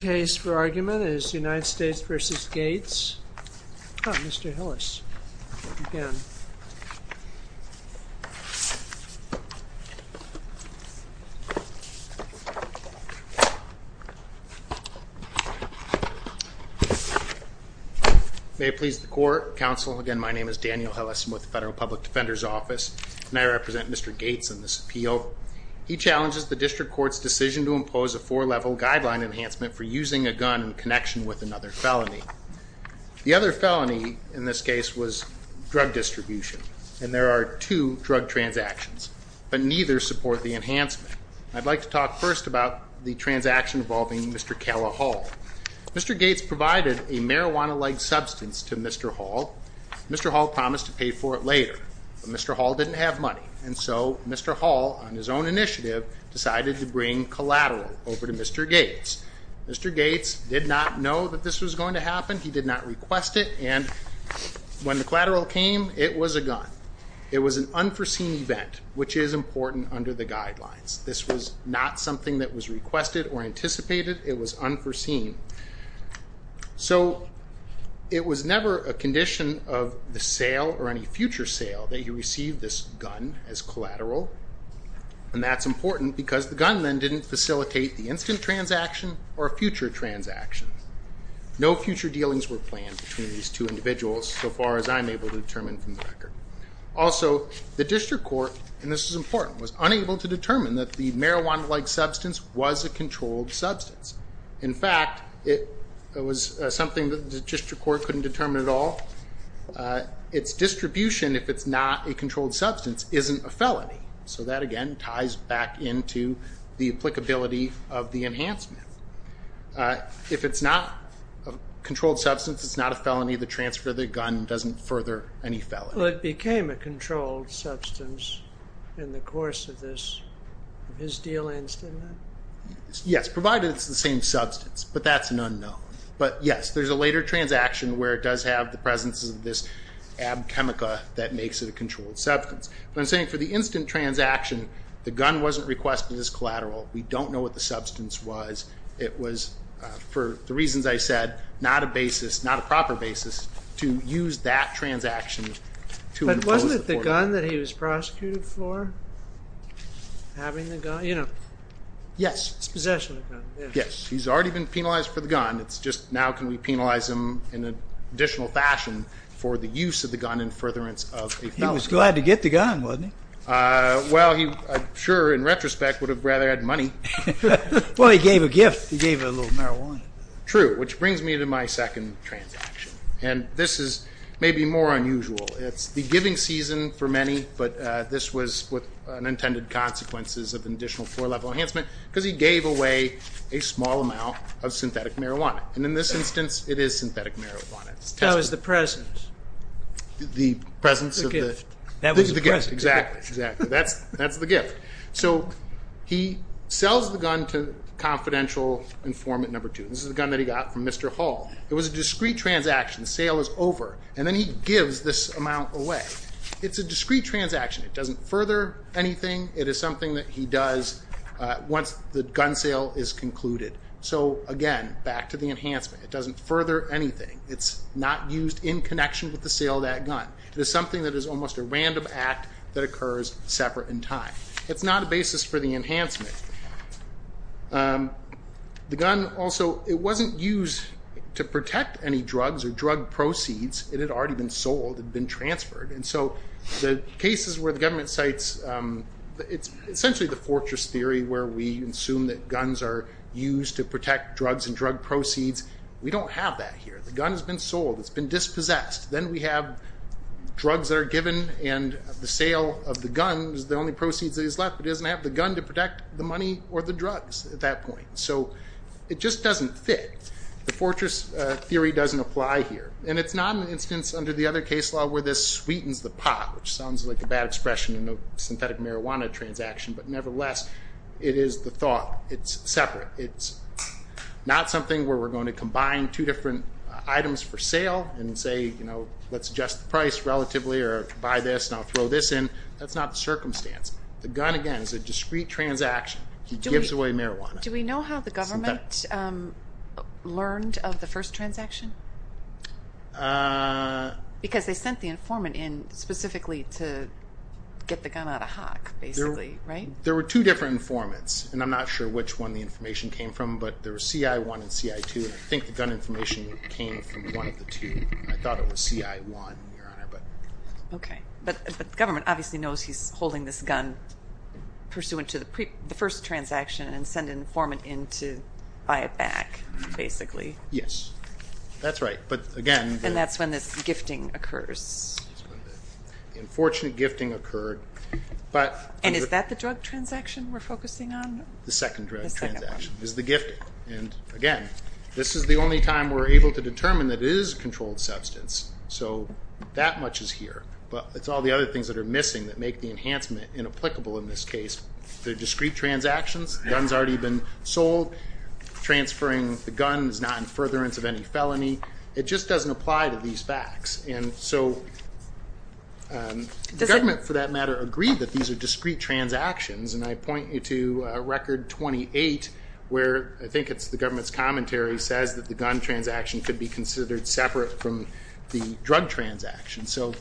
The case for argument is United States v. Gates, Mr. Hillis, if you can. May it please the Court, Counsel, again my name is Daniel Hillis, I'm with the Federal Public Defender's Office, and I represent Mr. Gates in this appeal. So he challenges the District Court's decision to impose a four-level guideline enhancement for using a gun in connection with another felony. The other felony in this case was drug distribution, and there are two drug transactions, but neither support the enhancement. I'd like to talk first about the transaction involving Mr. Calla Hall. Mr. Gates provided a marijuana-like substance to Mr. Hall. Mr. Hall promised to pay for it later, but Mr. Hall didn't have money, and so Mr. Hall, on his own initiative, decided to bring collateral over to Mr. Gates. Mr. Gates did not know that this was going to happen, he did not request it, and when the collateral came, it was a gun. It was an unforeseen event, which is important under the guidelines. This was not something that was requested or anticipated, it was unforeseen. So it was never a condition of the sale or any future sale that he receive this gun as collateral, and that's important because the gun then didn't facilitate the instant transaction or a future transaction. No future dealings were planned between these two individuals, so far as I'm able to determine from the record. Also, the District Court, and this is important, was unable to determine that the marijuana-like substance was a controlled substance. In fact, it was something that the District Court couldn't determine at all. Its distribution, if it's not a controlled substance, isn't a felony. So that, again, ties back into the applicability of the enhancement. If it's not a controlled substance, it's not a felony, the transfer of the gun doesn't further any felony. Well, it became a controlled substance in the course of this, his dealings, didn't it? Yes, provided it's the same substance, but that's an unknown. But yes, there's a later transaction where it does have the presence of this ab chemica that makes it a controlled substance. But I'm saying for the instant transaction, the gun wasn't requested as collateral. We don't know what the substance was. It was, for the reasons I said, not a basis, not a proper basis to use that transaction to impose the order. The gun that he was prosecuted for, having the gun, you know. Yes. His possession of the gun. Yes, he's already been penalized for the gun. It's just now can we penalize him in an additional fashion for the use of the gun in furtherance of a felony. He was glad to get the gun, wasn't he? Well, I'm sure, in retrospect, would have rather had money. Well, he gave a gift. He gave a little marijuana. True, which brings me to my second transaction. And this is maybe more unusual. It's the giving season for many, but this was with unintended consequences of an additional four-level enhancement because he gave away a small amount of synthetic marijuana. And in this instance, it is synthetic marijuana. So it's the presence. The presence of the gift. That was the present. Exactly, exactly. That's the gift. So he sells the gun to confidential informant number two. This is the gun that he got from Mr. Hall. It was a discrete transaction. The sale is over. And then he gives this amount away. It's a discrete transaction. It doesn't further anything. It is something that he does once the gun sale is concluded. So, again, back to the enhancement. It doesn't further anything. It's not used in connection with the sale of that gun. It is something that is almost a random act that occurs separate in time. It's not a basis for the enhancement. The gun also, it wasn't used to protect any drugs or drug proceeds. It had already been sold. It had been transferred. And so the cases where the government cites, it's essentially the fortress theory where we assume that guns are used to protect drugs and drug proceeds. We don't have that here. The gun has been sold. It's been dispossessed. Then we have drugs that are given and the sale of the gun is the only proceeds that is left. It doesn't have the gun to protect the money or the drugs at that point. So it just doesn't fit. The fortress theory doesn't apply here. And it's not an instance under the other case law where this sweetens the pot, which sounds like a bad expression in a synthetic marijuana transaction. But nevertheless, it is the thought. It's separate. It's not something where we're going to combine two different items for sale and say, you know, let's adjust the price relatively or buy this and I'll throw this in. That's not the circumstance. The gun, again, is a discrete transaction. He gives away marijuana. Do we know how the government learned of the first transaction? Because they sent the informant in specifically to get the gun out of hock, basically, right? There were two different informants, and I'm not sure which one the information came from, but there was CI1 and CI2, and I think the gun information came from one of the two. I thought it was CI1, Your Honor. Okay. But the government obviously knows he's holding this gun pursuant to the first transaction and sent an informant in to buy it back, basically. Yes. That's right. And that's when this gifting occurs. The unfortunate gifting occurred. And is that the drug transaction we're focusing on? The second drug transaction is the gifting. And, again, this is the only time we're able to determine that it is a controlled substance. So that much is here. But it's all the other things that are missing that make the enhancement inapplicable in this case. They're discrete transactions. The gun's already been sold. Transferring the gun is not in furtherance of any felony. It just doesn't apply to these facts. And so the government, for that matter, agreed that these are discrete transactions, and I point you to Record 28, where I think it's the government's commentary, says that the gun transaction could be considered separate from the drug transaction. So,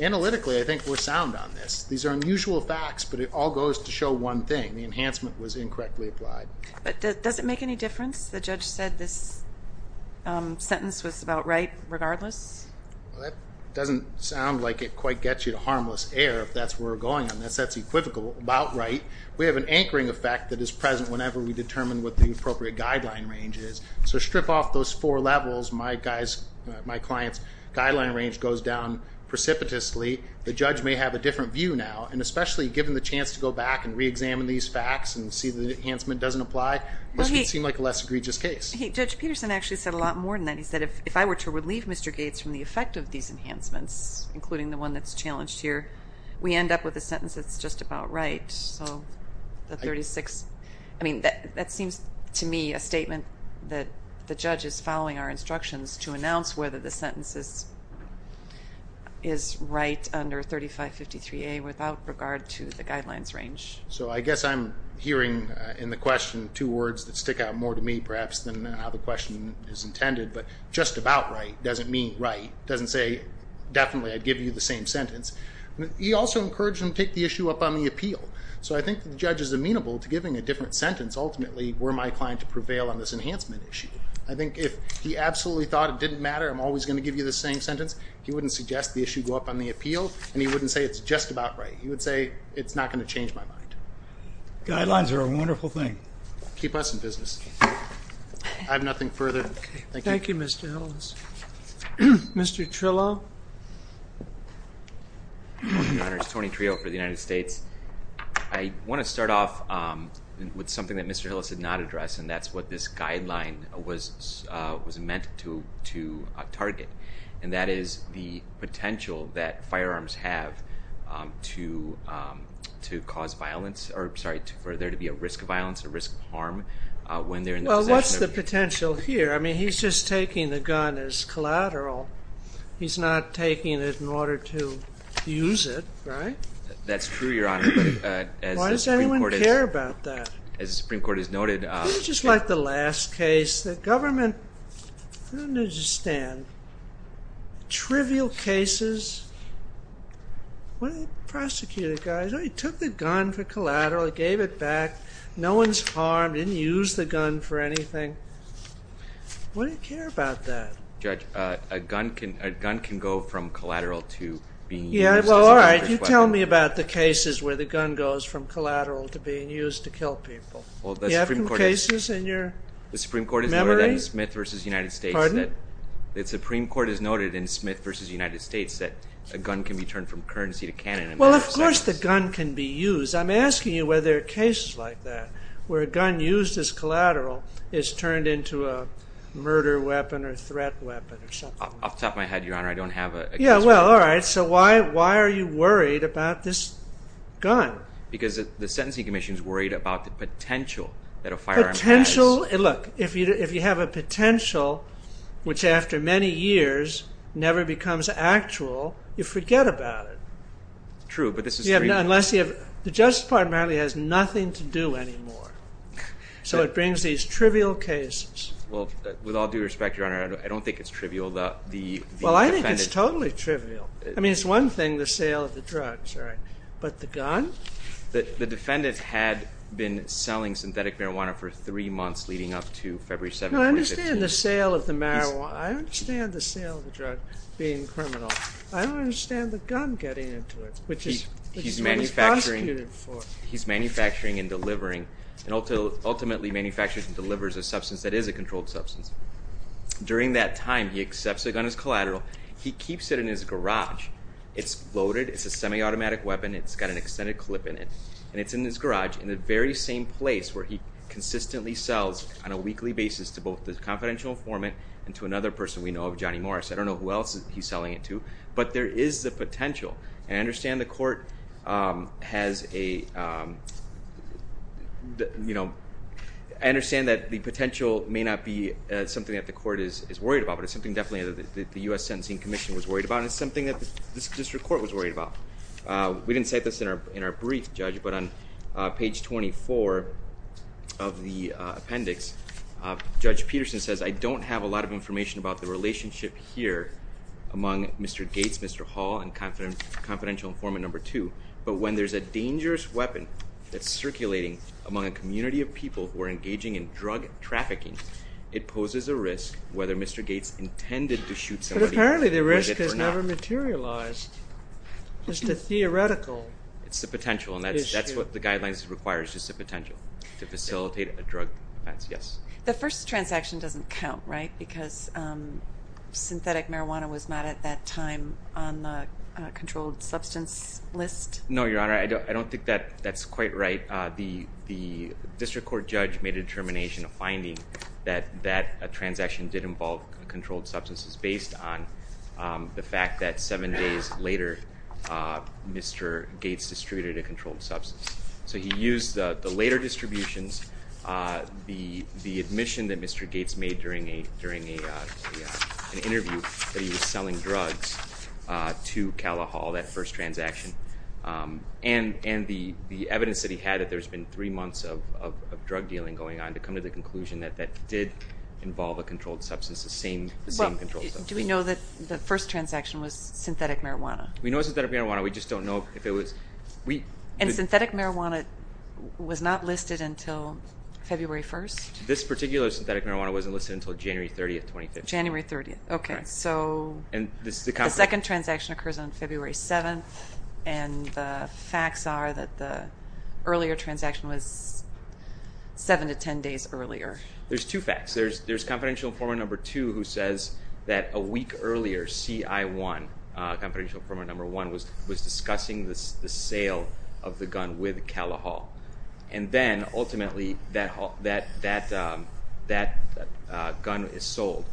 analytically, I think we're sound on this. These are unusual facts, but it all goes to show one thing. The enhancement was incorrectly applied. But does it make any difference? The judge said this sentence was about right regardless. Well, that doesn't sound like it quite gets you to harmless air if that's where we're going on this. That's equivocal, about right. We have an anchoring effect that is present whenever we determine what the appropriate guideline range is. So strip off those four levels. My client's guideline range goes down precipitously. The judge may have a different view now, and especially given the chance to go back and reexamine these facts and see that the enhancement doesn't apply, this would seem like a less egregious case. Judge Peterson actually said a lot more than that. He said if I were to relieve Mr. Gates from the effect of these enhancements, including the one that's challenged here, we end up with a sentence that's just about right. I mean, that seems to me a statement that the judge is following our instructions to announce whether the sentence is right under 3553A without regard to the guidelines range. So I guess I'm hearing in the question two words that stick out more to me, perhaps, than how the question is intended, but just about right doesn't mean right. It doesn't say definitely I'd give you the same sentence. He also encouraged him to take the issue up on the appeal. So I think the judge is amenable to giving a different sentence, ultimately, were my client to prevail on this enhancement issue. I think if he absolutely thought it didn't matter, I'm always going to give you the same sentence, he wouldn't suggest the issue go up on the appeal, and he wouldn't say it's just about right. He would say it's not going to change my mind. Guidelines are a wonderful thing. Keep us in business. I have nothing further. Thank you. Thank you, Mr. Ellis. Mr. Trillo. Thank you, Your Honors. Tony Trillo for the United States. I want to start off with something that Mr. Ellis did not address, and that's what this guideline was meant to target, and that is the potential that firearms have to cause violence or, sorry, for there to be a risk of violence, a risk of harm when they're in the possession of a gun. Well, what's the potential here? I mean, he's just taking the gun as collateral. He's not taking it in order to use it, right? That's true, Your Honor. Why does anyone care about that? As the Supreme Court has noted. It's just like the last case. The government didn't understand. Trivial cases. One of the prosecutor guys, he took the gun for collateral. He gave it back. No one's harmed. He didn't use the gun for anything. Why do you care about that? Judge, a gun can go from collateral to being used. Yeah, well, all right. You tell me about the cases where the gun goes from collateral to being used to kill people. Do you have any cases in your memory? The Supreme Court has noted in Smith v. United States that a gun can be turned from currency to cannon. Well, of course the gun can be used. I'm asking you whether there are cases like that where a gun used as collateral is turned into a murder weapon or threat weapon or something. Off the top of my head, Your Honor, I don't have a case like that. Yeah, well, all right. So why are you worried about this gun? Because the Sentencing Commission is worried about the potential that a firearm has. Potential. Look, if you have a potential, which after many years never becomes actual, you forget about it. True, but this is true. The Justice Department apparently has nothing to do anymore. So it brings these trivial cases. Well, with all due respect, Your Honor, I don't think it's trivial. Well, I think it's totally trivial. I mean, it's one thing, the sale of the drugs, right, but the gun? The defendant had been selling synthetic marijuana for three months leading up to February 7, 2015. No, I understand the sale of the marijuana. I understand the sale of the drug being criminal. I don't understand the gun getting into it. Which is what he prosecuted for. He's manufacturing and delivering, and ultimately manufactures and delivers a substance that is a controlled substance. During that time, he accepts the gun as collateral. He keeps it in his garage. It's loaded. It's a semi-automatic weapon. It's got an extended clip in it. And it's in his garage in the very same place where he consistently sells on a weekly basis to both the confidential informant and to another person we know of, Johnny Morris. I don't know who else he's selling it to, but there is the potential. And I understand the court has a, you know, I understand that the potential may not be something that the court is worried about, but it's something definitely that the U.S. Sentencing Commission was worried about, and it's something that this district court was worried about. We didn't cite this in our brief, Judge, but on page 24 of the appendix, Judge Peterson says, I don't have a lot of information about the relationship here among Mr. Gates, Mr. Hall, and confidential informant number two, but when there's a dangerous weapon that's circulating among a community of people who are engaging in drug trafficking, it poses a risk whether Mr. Gates intended to shoot somebody. But apparently the risk has never materialized. It's the theoretical issue. It's the potential, and that's what the guidelines require is just the potential to facilitate a drug offense. Yes. The first transaction doesn't count, right, because synthetic marijuana was not at that time on the controlled substance list? No, Your Honor. I don't think that's quite right. The district court judge made a determination, a finding, that that transaction did involve controlled substances based on the fact that seven days later Mr. Gates distributed a controlled substance. So he used the later distributions, the admission that Mr. Gates made during an interview that he was selling drugs to Calla Hall, that first transaction, and the evidence that he had that there's been three months of drug dealing going on to come to the conclusion that that did involve a controlled substance, the same controlled substance. Do we know that the first transaction was synthetic marijuana? We know it was synthetic marijuana. We just don't know if it was. And synthetic marijuana was not listed until February 1st? This particular synthetic marijuana wasn't listed until January 30th, 2015. January 30th. Okay. So the second transaction occurs on February 7th, and the facts are that the earlier transaction was seven to ten days earlier. There's two facts. There's confidential informant number two who says that a week earlier, CI1, confidential informant number one, was discussing the sale of the gun with Calla Hall. And then ultimately that gun is sold.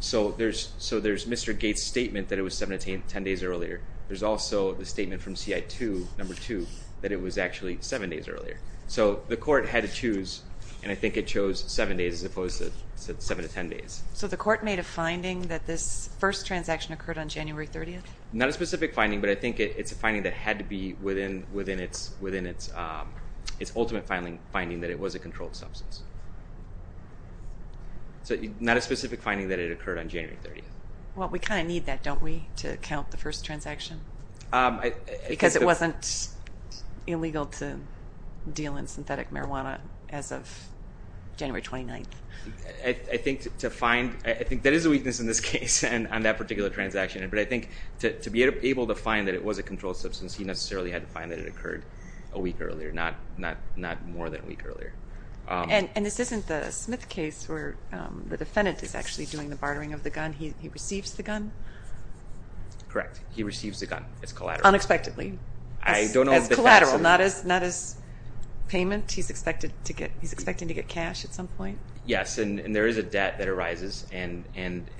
So there's Mr. Gates' statement that it was seven to ten days earlier. There's also the statement from CI2, number two, that it was actually seven days earlier. So the court had to choose, and I think it chose seven days as opposed to seven to ten days. So the court made a finding that this first transaction occurred on January 30th? Not a specific finding, but I think it's a finding that had to be within its ultimate finding that it was a controlled substance. So not a specific finding that it occurred on January 30th. Well, we kind of need that, don't we, to count the first transaction? Because it wasn't illegal to deal in synthetic marijuana as of January 29th. I think that is a weakness in this case on that particular transaction. But I think to be able to find that it was a controlled substance, he necessarily had to find that it occurred a week earlier, not more than a week earlier. And this isn't the Smith case where the defendant is actually doing the bartering of the gun? He receives the gun? Correct. He receives the gun as collateral. Unexpectedly. As collateral, not as payment. He's expecting to get cash at some point? Yes, and there is a debt that arises, and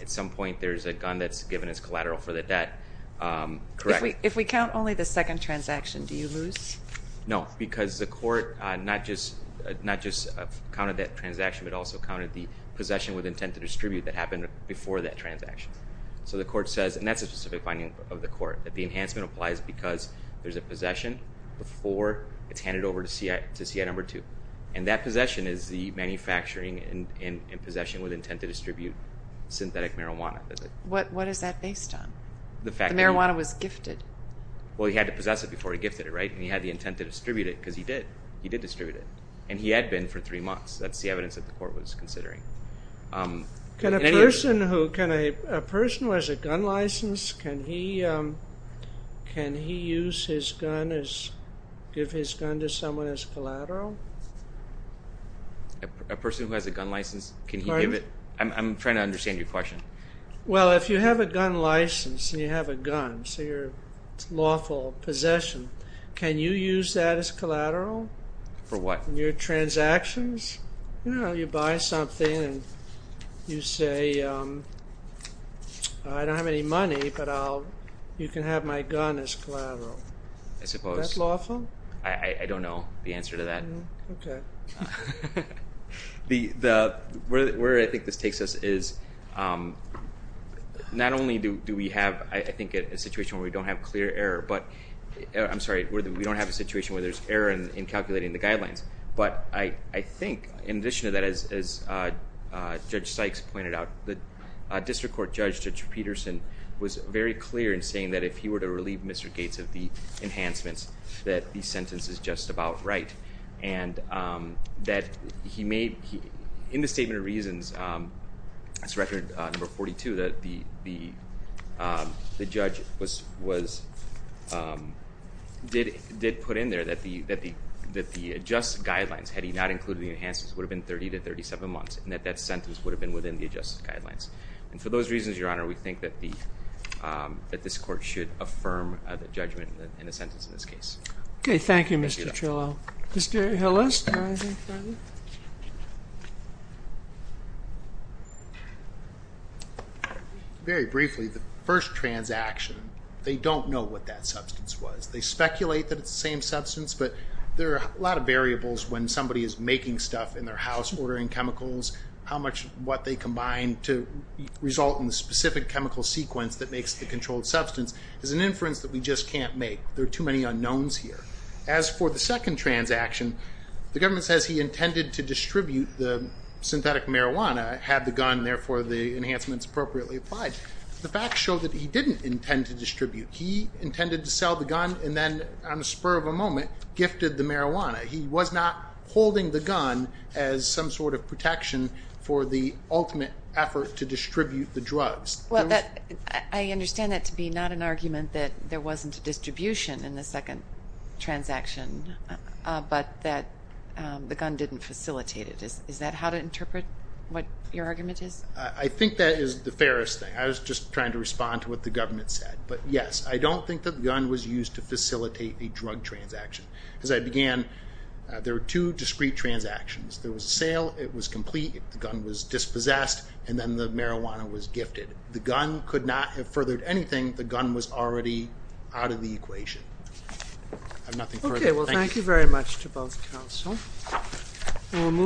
at some point there's a gun that's given as collateral for the debt. Correct. If we count only the second transaction, do you lose? No, because the court not just counted that transaction, but also counted the possession with intent to distribute that happened before that transaction. So the court says, and that's a specific finding of the court, that the enhancement applies because there's a possession before it's handed over to CI No. 2. And that possession is the manufacturing and possession with intent to distribute synthetic marijuana. What is that based on? The fact that he... The marijuana was gifted. Well, he had to possess it before he gifted it, right? And he had the intent to distribute it because he did. He did distribute it. And he had been for three months. That's the evidence that the court was considering. Can a person who has a gun license, can he use his gun as... give his gun to someone as collateral? A person who has a gun license, can he give it? I'm trying to understand your question. Well, if you have a gun license and you have a gun, so your lawful possession, can you use that as collateral? For what? In your transactions? You know, you buy something and you say, I don't have any money, but you can have my gun as collateral. I suppose. Is that lawful? I don't know the answer to that. Okay. Where I think this takes us is, not only do we have, I think, a situation where we don't have clear error, but... I think, in addition to that, as Judge Sykes pointed out, the District Court Judge, Judge Peterson, was very clear in saying that if he were to relieve Mr. Gates of the enhancements, that the sentence is just about right. And, that he made, in the Statement of Reasons, it's record number 42, that the judge was... did put in there that the adjusted guidelines, had he not included the enhancements, would have been 30 to 37 months. And, that that sentence would have been within the adjusted guidelines. And, for those reasons, Your Honor, we think that the... that this Court should affirm the judgment in the sentence in this case. Okay. Thank you, Mr. Trillo. Mr. Hillis. Very briefly, the first transaction, they don't know what that substance was. They speculate that it's the same substance, but there are a lot of variables when somebody is making stuff in their house, ordering chemicals. How much... what they combine to result in the specific chemical sequence that makes the controlled substance, is an inference that we just can't make. There are too many unknowns here. As for the second transaction, the government says he intended to distribute the synthetic marijuana, had the gun, therefore, the enhancements appropriately applied. The facts show that he didn't intend to distribute. He intended to sell the gun, and then, on the spur of a moment, gifted the marijuana. He was not holding the gun as some sort of protection for the ultimate effort to distribute the drugs. Well, that... I understand that to be not an argument that there wasn't a distribution in the second transaction, but that the gun didn't facilitate it. Is that how to interpret what your argument is? I think that is the fairest thing. I was just trying to respond to what the government said. But, yes, I don't think that the gun was used to facilitate a drug transaction. As I began, there were two discrete transactions. There was a sale. It was complete. The gun was dispossessed, and then the marijuana was gifted. The gun could not have furthered anything. The gun was already out of the equation. I have nothing further. Thank you. Okay. Well, thank you very much to both counsel.